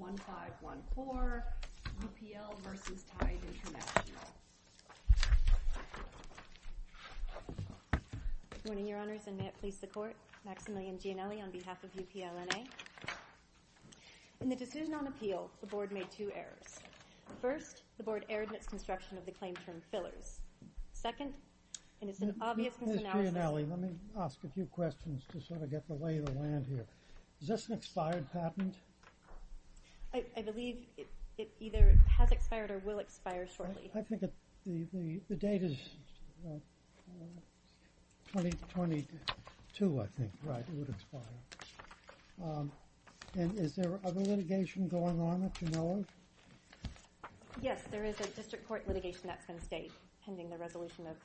1.5.1.4 UPL v. Tide International Morning, Your Honors, and may it please the Court. Maximilian Gianelli on behalf of UPL NA. In the decision on appeal, the Board made two errors. First, the Board erred in its construction of the claim term fillers. Second, in its obvious misanalysis- Ms. Gianelli, let me ask a few questions to sort of get the lay of the land here. Is this an expired patent? I believe it either has expired or will expire shortly. I think the date is 2022, I think. Right, it would expire. And is there other litigation going on at Gianelli? Yes, there is a district court litigation that's been stayed pending the resolution of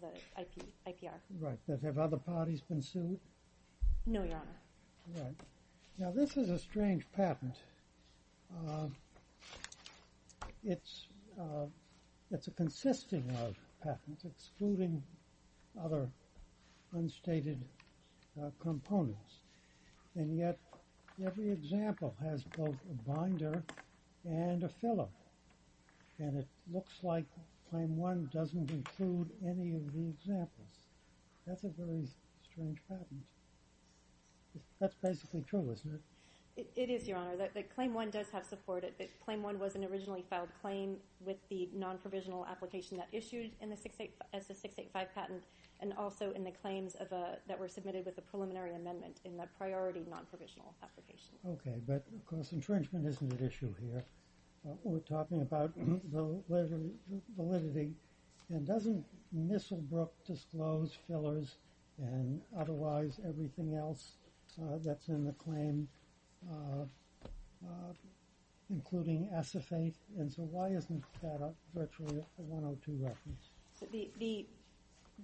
the IPR. Right, but have other parties been sued? No, Your Honor. Right. Now, this is a strange patent. It's a consisting of patents, excluding other unstated components. And yet, every example has both a binder and a filler. And it looks like Claim 1 doesn't include any of the examples. That's a very strange patent. That's basically true, isn't it? It is, Your Honor. Claim 1 does have support. Claim 1 was an originally filed claim with the non-provisional application that issued as the 685 patent and also in the claims that were submitted with the preliminary amendment in the priority non-provisional application. Okay, but of course, infringement isn't at issue here. We're talking about validity. And doesn't Misselbrook disclose fillers and otherwise everything else that's in the claim, including asaphate? And so, why isn't that virtually a 102 reference?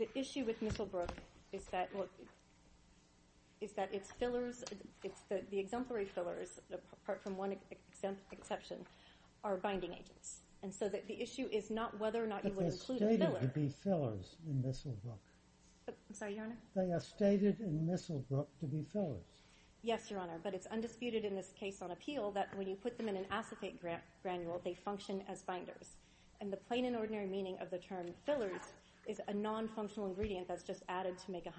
The issue with Misselbrook is that its fillers, the exemplary fillers, apart from one exception, are binding agents. And so, the issue is not whether or not you would include a filler. But they're stated to be fillers in Misselbrook. I'm sorry, Your Honor? They are stated in Misselbrook to be fillers. Yes, Your Honor, but it's undisputed in this case on appeal that when you put them in an asaphate granule, they function as binders. And the plain and ordinary meaning of the term fillers is a non-functional ingredient that's just added to make 100%.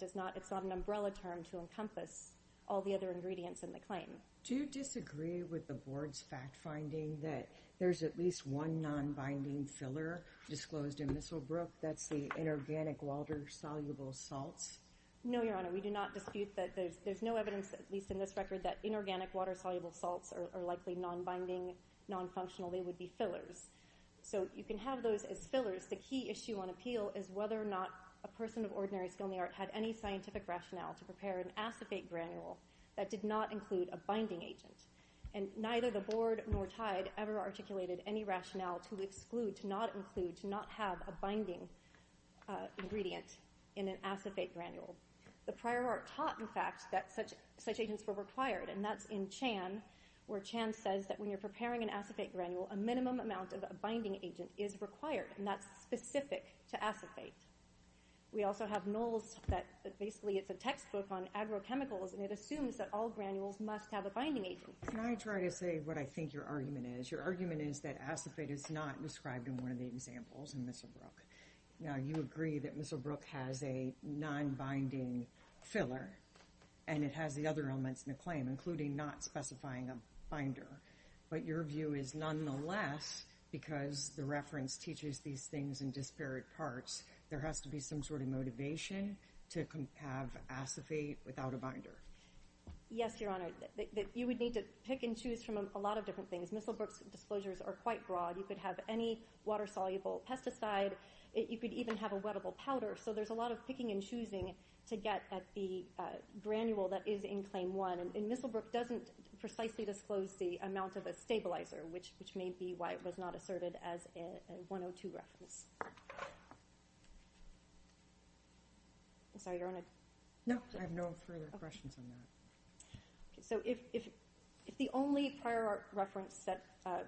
It's not an umbrella term to encompass all the other ingredients in the claim. Do you disagree with the Board's fact-finding that there's at least one non-binding filler disclosed in Misselbrook? That's the inorganic water-soluble salts? No, Your Honor. We do not dispute that. There's no evidence, at least in this record, that inorganic water-soluble salts are likely non-binding, non-functional. They would be fillers. So, you can have those as fillers. The key issue on appeal is whether or not a person of ordinary skill in the art had any scientific rationale to prepare an asaphate granule that did not include a binding agent. And neither the Board nor TIDE ever articulated any rationale to exclude, to not include, to not have a binding ingredient in an asaphate granule. The prior art taught, in fact, that such agents were required, and that's in Chan where Chan says that when you're preparing an asaphate granule, a minimum amount of a binding agent is required, and that's specific to asaphate. We also have Knowles that basically it's a textbook on agrochemicals, and it assumes that all granules must have a binding agent. Can I try to say what I think your argument is? Your argument is that asaphate is not described in one of the examples in Misselbrook. Now, you agree that Misselbrook has a non-binding filler, and it has the other elements in the claim, including not specifying a binder. But your view is nonetheless, because the reference teaches these things in disparate parts, there has to be some sort of motivation to have asaphate without a binder. Yes, Your Honor. You would need to pick and choose from a lot of different things. Misselbrook's disclosures are quite broad. You could have any water-soluble pesticide. You could even have a wettable powder. So there's a lot of picking and choosing to get at the granule that is in Claim 1, and Misselbrook doesn't precisely disclose the amount of a stabilizer, which may be why it was not asserted as a 102 reference. I'm sorry, Your Honor. No, I have no further questions on that. So if the only prior art reference that a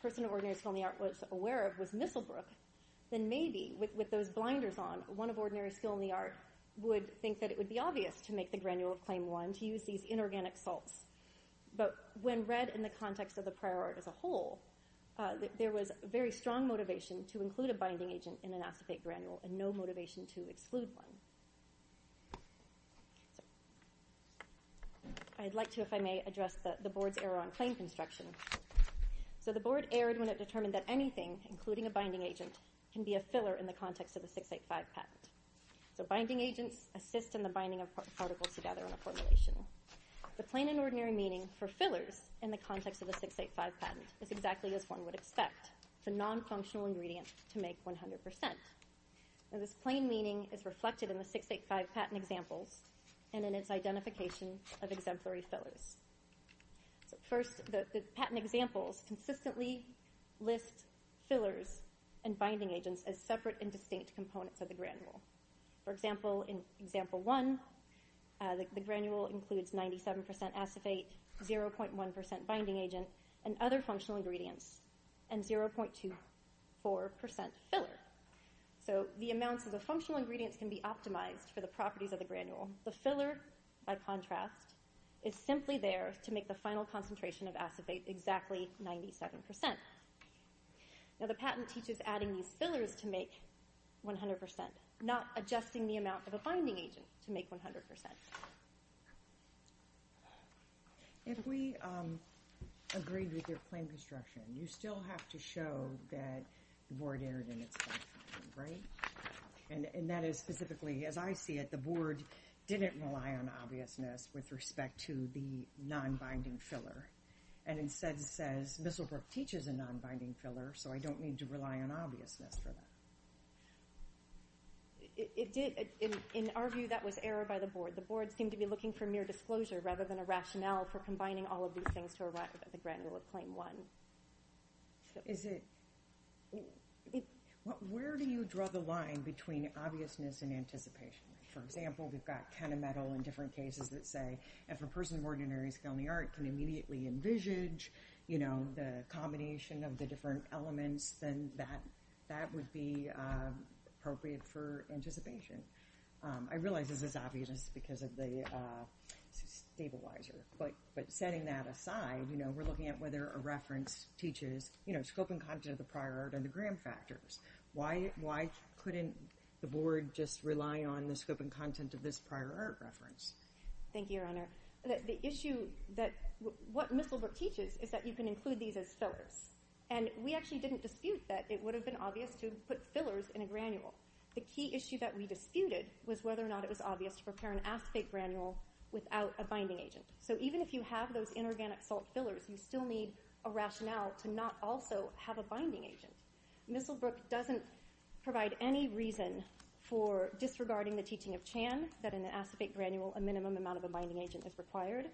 person of ordinary skill in the art was aware of was Misselbrook, then maybe with those blinders on, one of ordinary skill in the art would think that it would be obvious to make the granule of Claim 1 to use these inorganic salts. But when read in the context of the prior art as a whole, there was very strong motivation to include a binding agent in an asaphate granule and no motivation to exclude one. I'd like to, if I may, address the Board's error on claim construction. So the Board erred when it determined that anything, including a binding agent, can be a filler in the context of a 685 patent. So binding agents assist in the binding of particles together in a formulation. The plain and ordinary meaning for fillers in the context of the 685 patent is exactly as one would expect, the nonfunctional ingredient to make 100%. Now this plain meaning is reflected in the 685 patent examples and in its identification of exemplary fillers. First, the patent examples consistently list fillers and binding agents as separate and distinct components of the granule. For example, in example 1, the granule includes 97% asaphate, 0.1% binding agent, and other functional ingredients, and 0.24% filler. So the amounts of the functional ingredients can be optimized for the properties of the granule. The filler, by contrast, is simply there to make the final concentration of asaphate exactly 97%. Now the patent teaches adding these fillers to make 100%, not adjusting the amount of a binding agent to make 100%. If we agreed with your plain construction, you still have to show that the Board erred in its definition, right? And that is specifically, as I see it, the Board didn't rely on obviousness with respect to the non-binding filler. And instead it says, Misslebrook teaches a non-binding filler, so I don't need to rely on obviousness for that. It did, in our view, that was error by the Board. The Board seemed to be looking for mere disclosure rather than a rationale for combining all of these things to arrive at the granule of claim 1. Is it, where do you draw the line between obviousness and anticipation? For example, we've got Kenna Metal in different cases that say, if a person of ordinary skill in the art can immediately envisage, you know, the combination of the different elements, then that would be appropriate for anticipation. I realize this is obvious because of the stabilizer. But setting that aside, you know, we're looking at whether a reference teaches, you know, scope and content of the prior art and the gram factors. Why couldn't the Board just rely on the scope and content of this prior art reference? Thank you, Your Honor. The issue that what Misslebrook teaches is that you can include these as fillers. And we actually didn't dispute that it would have been obvious to put fillers in a granule. The key issue that we disputed was whether or not it was obvious to prepare an acetate granule without a binding agent. So even if you have those inorganic salt fillers, you still need a rationale to not also have a binding agent. Misslebrook doesn't provide any reason for disregarding the teaching of Chan that in an acetate granule a minimum amount of a binding agent is required,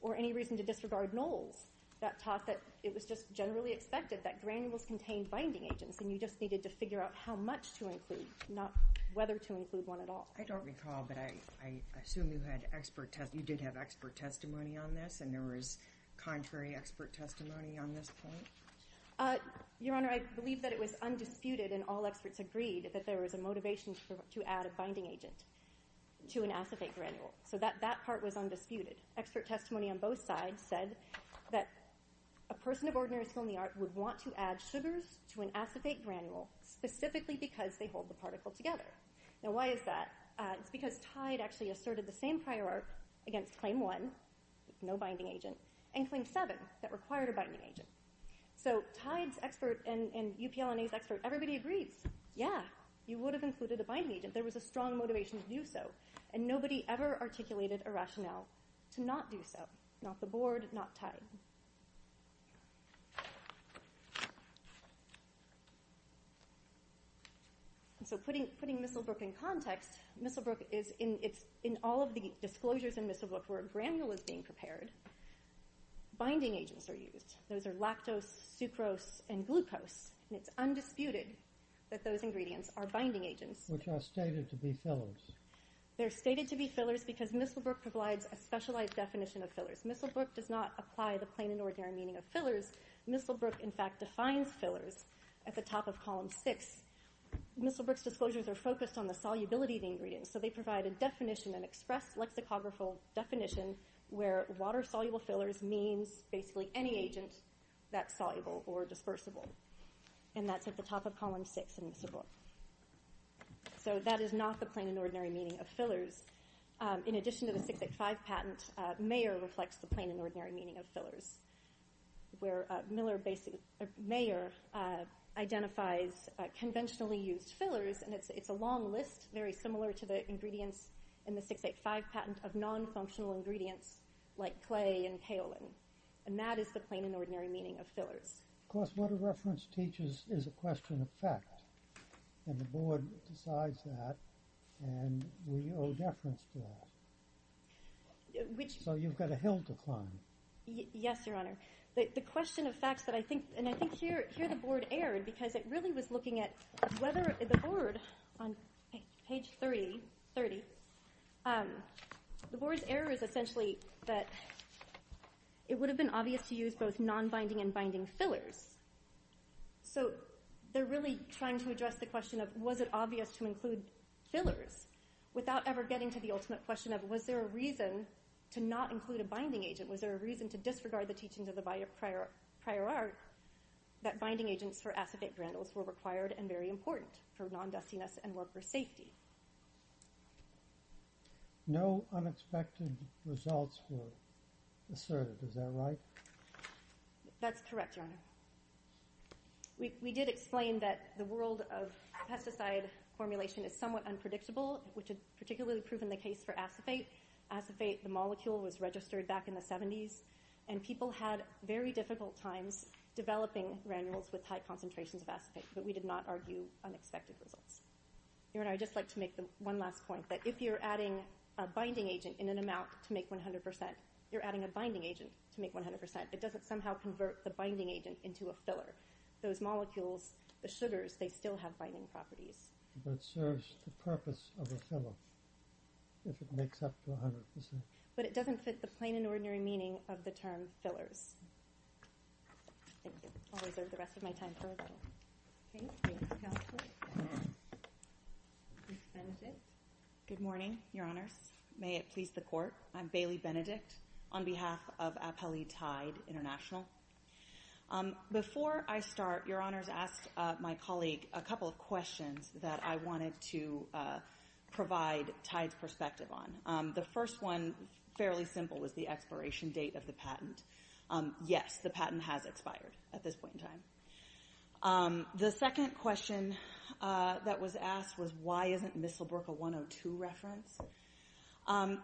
or any reason to disregard Knowles that taught that it was just generally expected that granules contained binding agents and you just needed to figure out how much to include, not whether to include one at all. I don't recall, but I assume you did have expert testimony on this, and there was contrary expert testimony on this point? Your Honor, I believe that it was undisputed and all experts agreed that there was a motivation to add a binding agent to an acetate granule. So that part was undisputed. Expert testimony on both sides said that a person of ordinary skill in the art would want to add sugars to an acetate granule specifically because they hold the particle together. Now why is that? It's because Tide actually asserted the same prior art against Claim 1, no binding agent, and Claim 7 that required a binding agent. So Tide's expert and UPL&A's expert, everybody agrees. Yeah, you would have included a binding agent. There was a strong motivation to do so, and nobody ever articulated a rationale to not do so. Not the Board, not Tide. So putting Misselbrook in context, it's in all of the disclosures in Misselbrook where a granule is being prepared, binding agents are used. Those are lactose, sucrose, and glucose, and it's undisputed that those ingredients are binding agents. Which are stated to be fillers. They're stated to be fillers because Misselbrook provides a specialized definition of fillers. Misselbrook does not apply the plain and ordinary meaning of fillers. Misselbrook, in fact, defines fillers at the top of Column 6. Misselbrook's disclosures are focused on the solubility of the ingredients, so they provide a definition, an expressed lexicographical definition, where water-soluble fillers means basically any agent that's soluble or dispersible. And that's at the top of Column 6 in Misselbrook. So that is not the plain and ordinary meaning of fillers. In addition to the 685 patent, Mayer reflects the plain and ordinary meaning of fillers. Where Mayer identifies conventionally used fillers, and it's a long list, very similar to the ingredients in the 685 patent, of non-functional ingredients like clay and kaolin. And that is the plain and ordinary meaning of fillers. Of course, what a reference teaches is a question of fact. And the Board decides that, and we owe deference to that. So you've got a hill to climb. Yes, Your Honor. The question of facts that I think, and I think here the Board erred, because it really was looking at whether the Board, on page 30, the Board's error is essentially that it would have been obvious not to use both non-binding and binding fillers. So they're really trying to address the question of, was it obvious to include fillers without ever getting to the ultimate question of, was there a reason to not include a binding agent? Was there a reason to disregard the teachings of the prior art that binding agents for acetate brandles were required and very important for non-dustiness and worker safety? No unexpected results were asserted. Is that right? That's correct, Your Honor. We did explain that the world of pesticide formulation is somewhat unpredictable, which had particularly proven the case for acetate. Acetate, the molecule, was registered back in the 70s, and people had very difficult times developing granules with high concentrations of acetate. But we did not argue unexpected results. Your Honor, I'd just like to make one last point, that if you're adding a binding agent in an amount to make 100 percent, you're adding a binding agent to make 100 percent. It doesn't somehow convert the binding agent into a filler. Those molecules, the sugars, they still have binding properties. But it serves the purpose of a filler if it makes up to 100 percent. But it doesn't fit the plain and ordinary meaning of the term fillers. Thank you. I'll reserve the rest of my time for a moment. Thank you, Counselor. Ms. Benedict. Good morning, Your Honors. May it please the Court. I'm Bailey Benedict on behalf of Appellee Tide International. Before I start, Your Honors asked my colleague a couple of questions that I wanted to provide Tide's perspective on. The first one, fairly simple, was the expiration date of the patent. Yes, the patent has expired at this point in time. The second question that was asked was, why isn't Mistelbrook a 102 reference?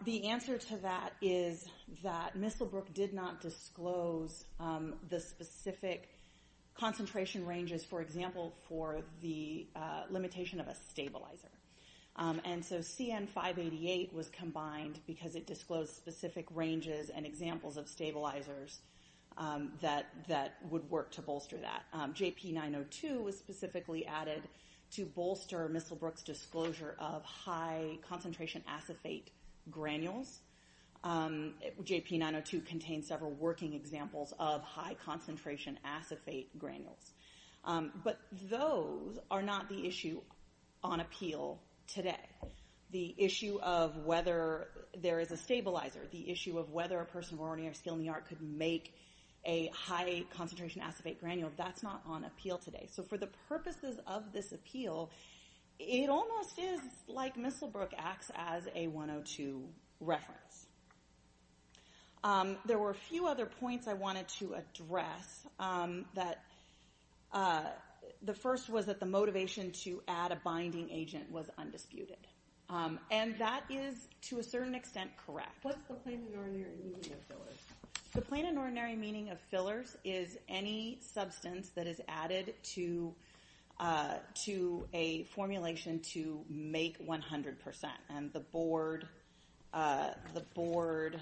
The answer to that is that Mistelbrook did not disclose the specific concentration ranges, for example, for the limitation of a stabilizer. And so CN-588 was combined because it disclosed specific ranges and examples of stabilizers that would work to bolster that. JP-902 was specifically added to bolster Mistelbrook's disclosure of high-concentration acephate granules. JP-902 contains several working examples of high-concentration acephate granules. But those are not the issue on appeal today. The issue of whether there is a stabilizer, the issue of whether a person of ordinary skill in the art could make a high-concentration acephate granule, that's not on appeal today. So for the purposes of this appeal, it almost is like Mistelbrook acts as a 102 reference. There were a few other points I wanted to address. The first was that the motivation to add a binding agent was undisputed. And that is, to a certain extent, correct. What's the plain and ordinary meaning of fillers? The plain and ordinary meaning of fillers is any substance that is added to a formulation to make 100%. And the board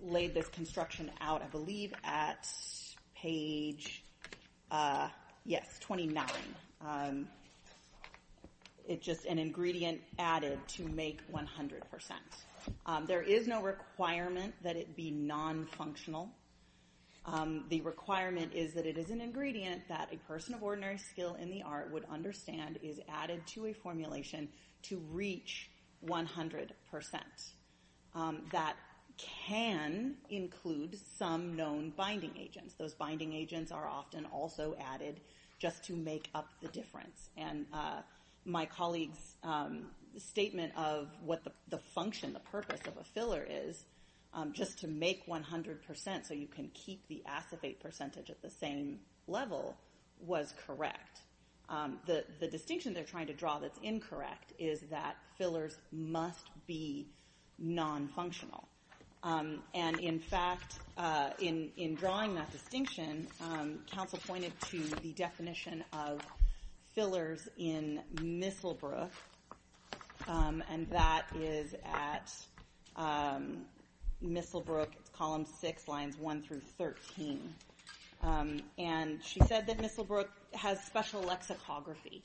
laid this construction out, I believe, at page 29. It's just an ingredient added to make 100%. There is no requirement that it be non-functional. The requirement is that it is an ingredient that a person of ordinary skill in the art would understand is added to a formulation to reach 100%. That can include some known binding agents. Those binding agents are often also added just to make up the difference. And my colleague's statement of what the function, the purpose of a filler is, just to make 100% so you can keep the acephate percentage at the same level, was correct. The distinction they're trying to draw that's incorrect is that fillers must be non-functional. And in fact, in drawing that distinction, counsel pointed to the definition of fillers in Misselbrook, and that is at Misselbrook, column 6, lines 1 through 13. And she said that Misselbrook has special lexicography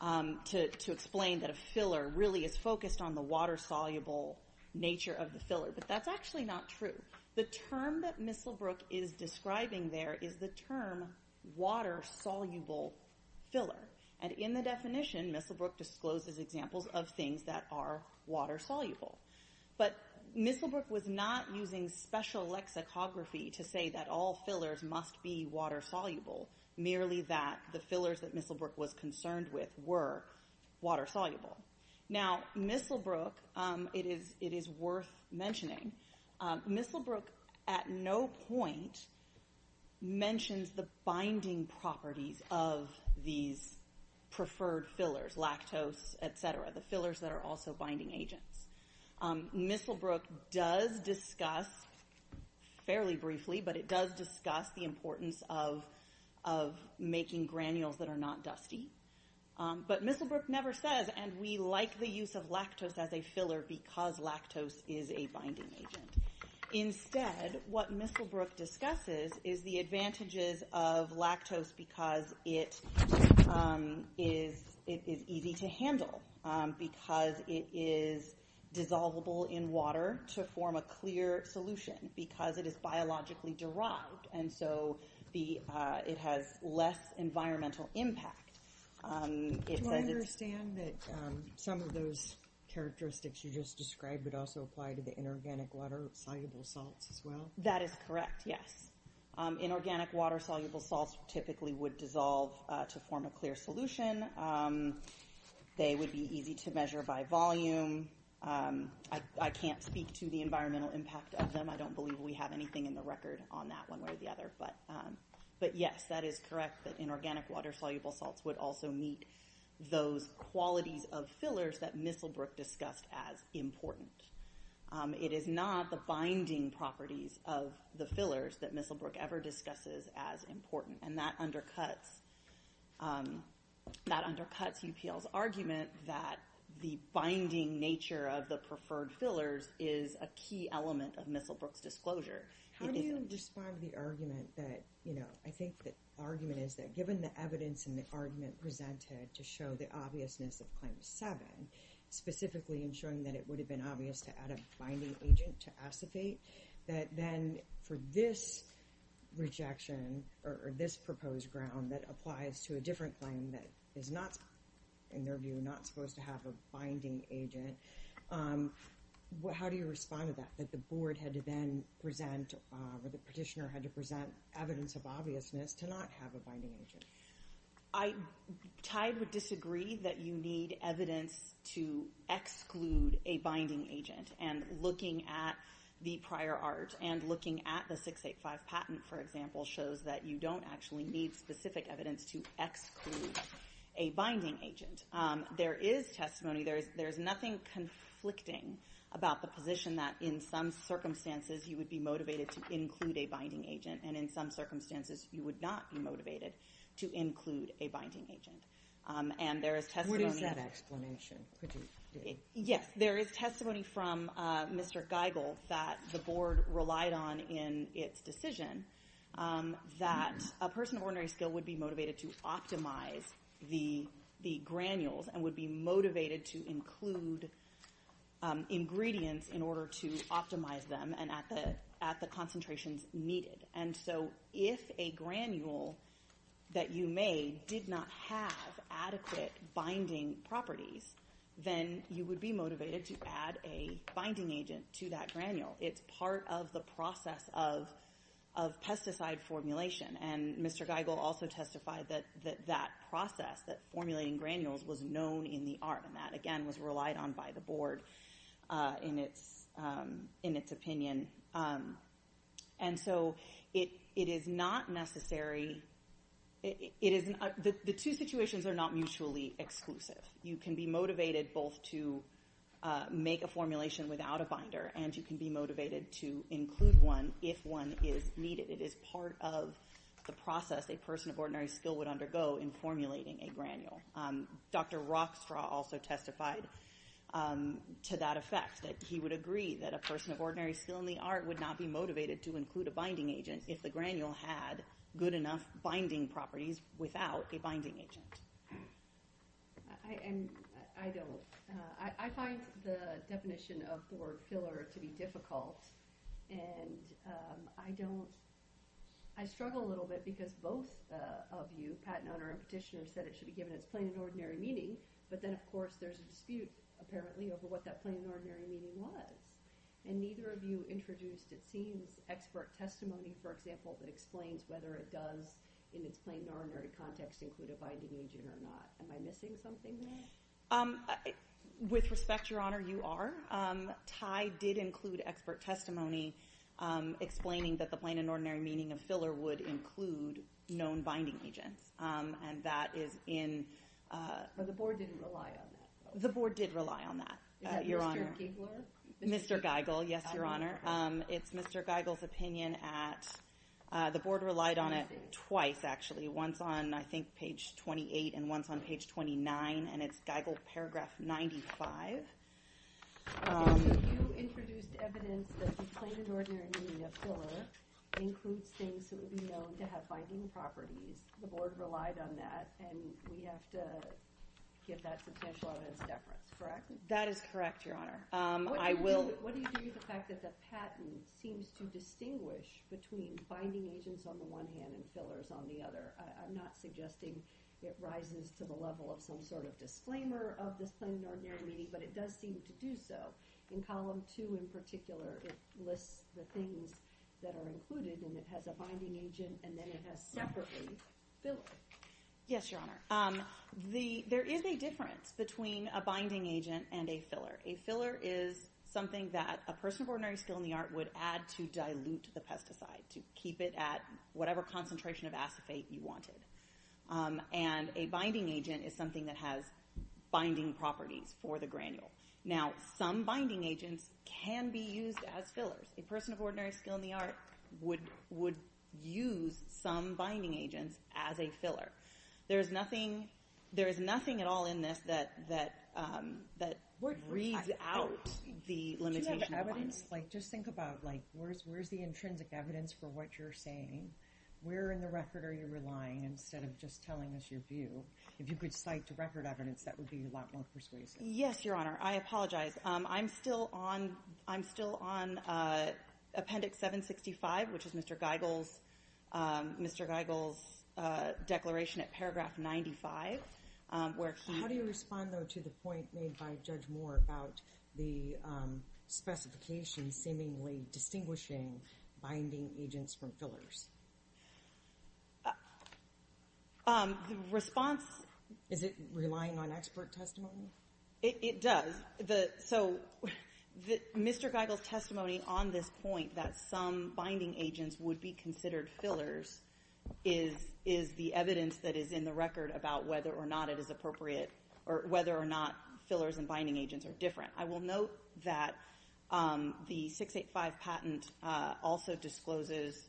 to explain that a filler really is focused on the water-soluble nature of the filler. But that's actually not true. The term that Misselbrook is describing there is the term water-soluble filler. And in the definition, Misselbrook discloses examples of things that are water-soluble. But Misselbrook was not using special lexicography to say that all fillers must be water-soluble, merely that the fillers that Misselbrook was concerned with were water-soluble. Now, Misselbrook, it is worth mentioning, Misselbrook at no point mentions the binding properties of these preferred fillers, lactose, et cetera, the fillers that are also binding agents. Misselbrook does discuss, fairly briefly, but it does discuss the importance of making granules that are not dusty. But Misselbrook never says, and we like the use of lactose as a filler because lactose is a binding agent. Instead, what Misselbrook discusses is the advantages of lactose because it is easy to handle, because it is dissolvable in water to form a clear solution, because it is biologically derived, and so it has less environmental impact. Do I understand that some of those characteristics you just described would also apply to the inorganic water-soluble salts as well? That is correct, yes. Inorganic water-soluble salts typically would dissolve to form a clear solution. They would be easy to measure by volume. I can't speak to the environmental impact of them. I don't believe we have anything in the record on that one way or the other. But yes, that is correct, that inorganic water-soluble salts would also meet those qualities of fillers that Misselbrook discussed as important. It is not the binding properties of the fillers that Misselbrook ever discusses as important, and that undercuts UPL's argument that the binding nature of the preferred fillers is a key element of Misselbrook's disclosure. How do you respond to the argument that, you know, I think the argument is that given the evidence in the argument presented to show the obviousness of Claim 7, specifically in showing that it would have been obvious to add a binding agent to asaphate, that then for this rejection or this proposed ground that applies to a different claim that is not, in your view, not supposed to have a binding agent, how do you respond to that, that the board had to then present, or the petitioner had to present evidence of obviousness to not have a binding agent? I tied with disagree that you need evidence to exclude a binding agent, and looking at the prior art and looking at the 685 patent, for example, shows that you don't actually need specific evidence to exclude a binding agent. There is testimony, there is nothing conflicting about the position that in some circumstances you would be motivated to include a binding agent, and in some circumstances you would not be motivated to include a binding agent. And there is testimony... What is that explanation? Yes, there is testimony from Mr. Geigel that the board relied on in its decision that a person of ordinary skill would be motivated to optimize the granules and would be motivated to include ingredients in order to optimize them and at the concentrations needed. And so if a granule that you made did not have adequate binding properties, then you would be motivated to add a binding agent to that granule. It's part of the process of pesticide formulation. And Mr. Geigel also testified that that process, that formulating granules, was known in the art, and that, again, was relied on by the board in its opinion. And so it is not necessary... The two situations are not mutually exclusive. You can be motivated both to make a formulation without a binder, and you can be motivated to include one if one is needed. It is part of the process a person of ordinary skill would undergo in formulating a granule. Dr. Rockstraw also testified to that effect, that he would agree that a person of ordinary skill in the art would not be motivated to include a binding agent if the granule had good enough binding properties without a binding agent. I don't. I find the definition of board filler to be difficult, and I don't... I struggle a little bit because both of you, the patent owner and petitioner, said it should be given its plain and ordinary meaning, but then, of course, there's a dispute, apparently, over what that plain and ordinary meaning was. And neither of you introduced, it seems, expert testimony, for example, that explains whether it does, in its plain and ordinary context, include a binding agent or not. Am I missing something there? With respect, Your Honor, you are. Ty did include expert testimony explaining that the plain and ordinary meaning of filler would include known binding agents, and that is in... But the board didn't rely on that, though. The board did rely on that, Your Honor. Is that Mr. Gigler? Mr. Geigel, yes, Your Honor. It's Mr. Geigel's opinion at... The board relied on it twice, actually, once on, I think, page 28 and once on page 29, and it's Geigel paragraph 95. Okay, so you introduced evidence that the plain and ordinary meaning of filler includes things that would be known to have binding properties. The board relied on that, and we have to give that substantial evidence of deference, correct? That is correct, Your Honor. I will... What do you do with the fact that the patent seems to distinguish between binding agents on the one hand and fillers on the other? I'm not suggesting it rises to the level of some sort of disclaimer of this plain and ordinary meaning, but it does seem to do so. In column 2, in particular, it lists the things that are included, and it has a binding agent, and then it has separately filler. Yes, Your Honor. There is a difference between a binding agent and a filler. A filler is something that a person of ordinary skill in the art would add to dilute the pesticide, to keep it at whatever concentration of acetate you wanted. And a binding agent is something that has binding properties for the granule. Now, some binding agents can be used as fillers. A person of ordinary skill in the art would use some binding agents as a filler. There is nothing at all in this that reads out the limitations. Do you have evidence? Just think about where's the intrinsic evidence for what you're saying? Where in the record are you relying, instead of just telling us your view? If you could cite record evidence, that would be a lot more persuasive. Yes, Your Honor. I apologize. I'm still on Appendix 765, which is Mr. Geigel's declaration at paragraph 95. How do you respond, though, to the point made by Judge Moore about the specification seemingly distinguishing binding agents from fillers? The response... Is it relying on expert testimony? It does. So Mr. Geigel's testimony on this point that some binding agents would be considered fillers is the evidence that is in the record about whether or not it is appropriate or whether or not fillers and binding agents are different. I will note that the 685 patent also discloses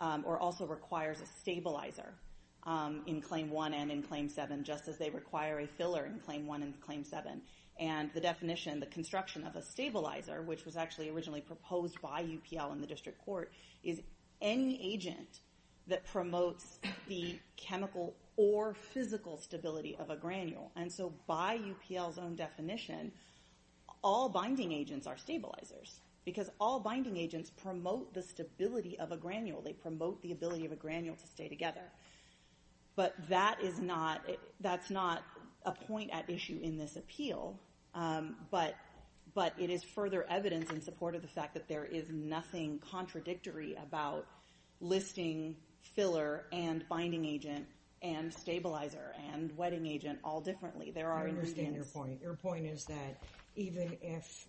or also requires a stabilizer in Claim 1 and in Claim 7, just as they require a filler in Claim 1 and Claim 7. And the definition, the construction of a stabilizer, which was actually originally proposed by UPL in the district court, is any agent that promotes the chemical or physical stability of a granule. And so by UPL's own definition, all binding agents are stabilizers because all binding agents promote the stability of a granule. They promote the ability of a granule to stay together. But that is not... That's not a point at issue in this appeal, but it is further evidence in support of the fact that there is nothing contradictory about listing filler and binding agent and stabilizer and wetting agent all differently. There are ingredients... I understand your point. Your point is that even if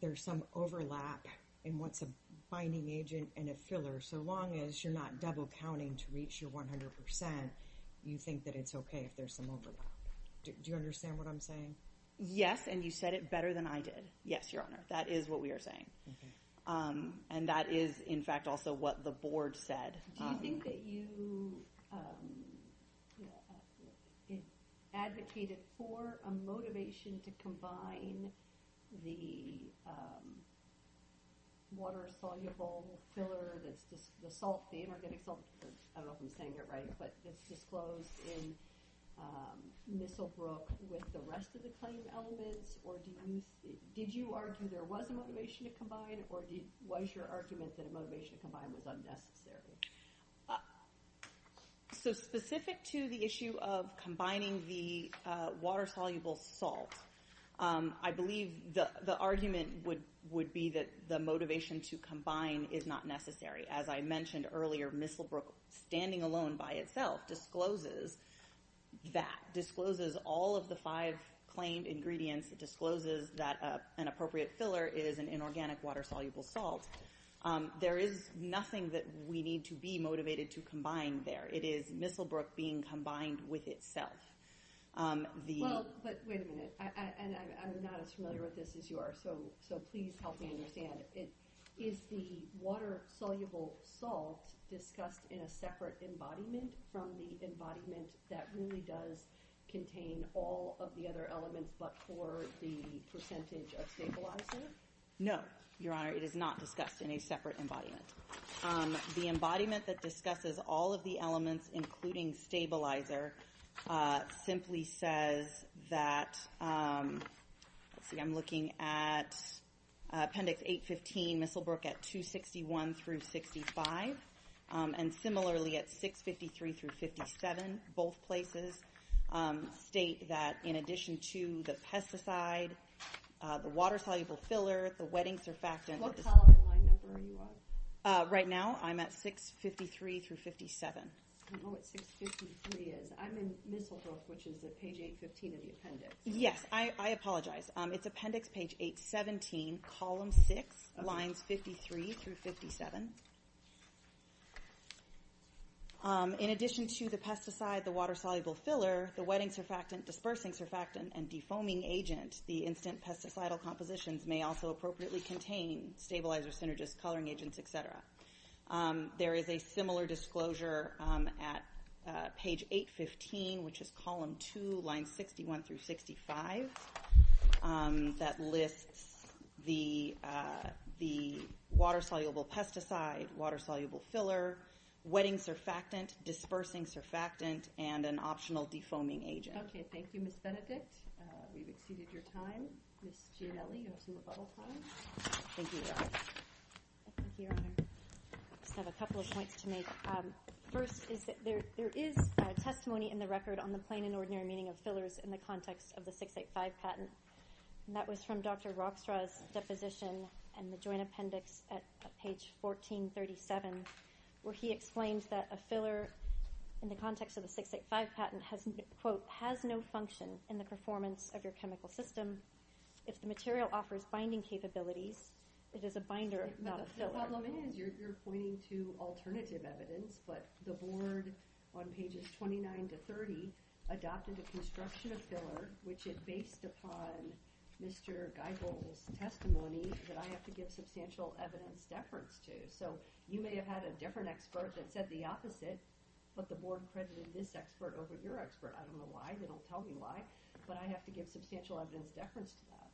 there's some overlap in what's a binding agent and a filler, so long as you're not double counting to reach your 100%, you think that it's okay if there's some overlap. Do you understand what I'm saying? Yes, and you said it better than I did. Yes, Your Honor. That is what we are saying. And that is, in fact, also what the board said. Do you think that you advocated for a motivation to combine the water-soluble filler, the salt, the inorganic salt, I don't know if I'm saying it right, but it's disclosed in Missile Brook with the rest of the claim elements? Or was your argument that a motivation to combine was unnecessary? So specific to the issue of combining the water-soluble salt, I believe the argument would be that the motivation to combine is not necessary. As I mentioned earlier, Missile Brook, standing alone by itself, discloses that, discloses all of the five claimed ingredients, discloses that an appropriate filler is an inorganic water-soluble salt. There is nothing that we need to be motivated to combine there. It is Missile Brook being combined with itself. Well, but wait a minute, and I'm not as familiar with this as you are, so please help me understand. Is the water-soluble salt discussed in a separate embodiment from the embodiment that really does contain all of the other elements but for the percentage of stabilizer? No, Your Honor, it is not discussed in a separate embodiment. The embodiment that discusses all of the elements, including stabilizer, simply says that, let's see, I'm looking at Appendix 815, Missile Brook at 261 through 65, and similarly at 653 through 57. Both places state that in addition to the pesticide, the water-soluble filler, the wetting surfactant. What column and line number are you on? Right now I'm at 653 through 57. I don't know what 653 is. I'm in Missile Brook, which is at Page 815 of the appendix. Yes, I apologize. It's Appendix Page 817, Column 6, Lines 53 through 57. In addition to the pesticide, the water-soluble filler, the wetting surfactant, dispersing surfactant, and defoaming agent, the instant pesticidal compositions may also appropriately contain stabilizer, synergist, coloring agents, et cetera. There is a similar disclosure at Page 815, which is Column 2, Lines 61 through 65, that lists the water-soluble pesticide, water-soluble filler, wetting surfactant, dispersing surfactant, and an optional defoaming agent. Okay, thank you, Ms. Benedict. We've exceeded your time. Ms. Gianelli, you have some rebuttal time. Thank you, Your Honor. I just have a couple of points to make. First, there is testimony in the record on the plain and ordinary meaning of fillers in the context of the 685 patent. That was from Dr. Rockstraw's deposition in the Joint Appendix at Page 1437, where he explains that a filler in the context of the 685 patent has, quote, has no function in the performance of your chemical system. If the material offers binding capabilities, it is a binder, not a filler. The problem is you're pointing to alternative evidence, but the Board on Pages 29 to 30 adopted a construction of filler, which is based upon Mr. Geibel's testimony that I have to give substantial evidence deference to. So you may have had a different expert that said the opposite, but the Board credited this expert over your expert. I don't know why. They don't tell me why. But I have to give substantial evidence deference to that.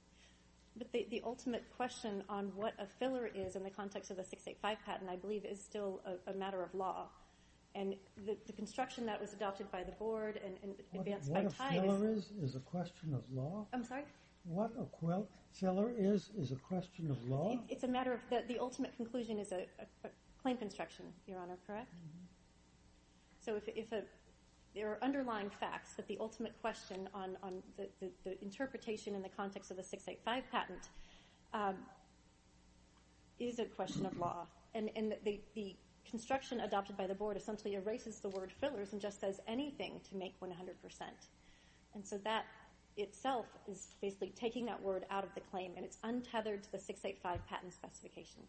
But the ultimate question on what a filler is in the context of the 685 patent, I believe, is still a matter of law. And the construction that was adopted by the Board and advanced by time is— What a filler is is a question of law? I'm sorry? What a filler is is a question of law? It's a matter of—the ultimate conclusion is a claim construction, Your Honor, correct? Mm-hmm. So if there are underlying facts that the ultimate question on the interpretation in the context of the 685 patent is a question of law and the construction adopted by the Board essentially erases the word fillers and just says anything to make 100%. And so that itself is basically taking that word out of the claim and it's untethered to the 685 patent specification.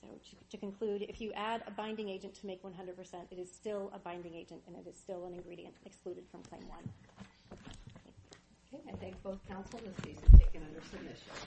So to conclude, if you add a binding agent to make 100%, it is still a binding agent and it is still an ingredient excluded from Claim 1. Okay, I thank both counsel. This case is taken under submission.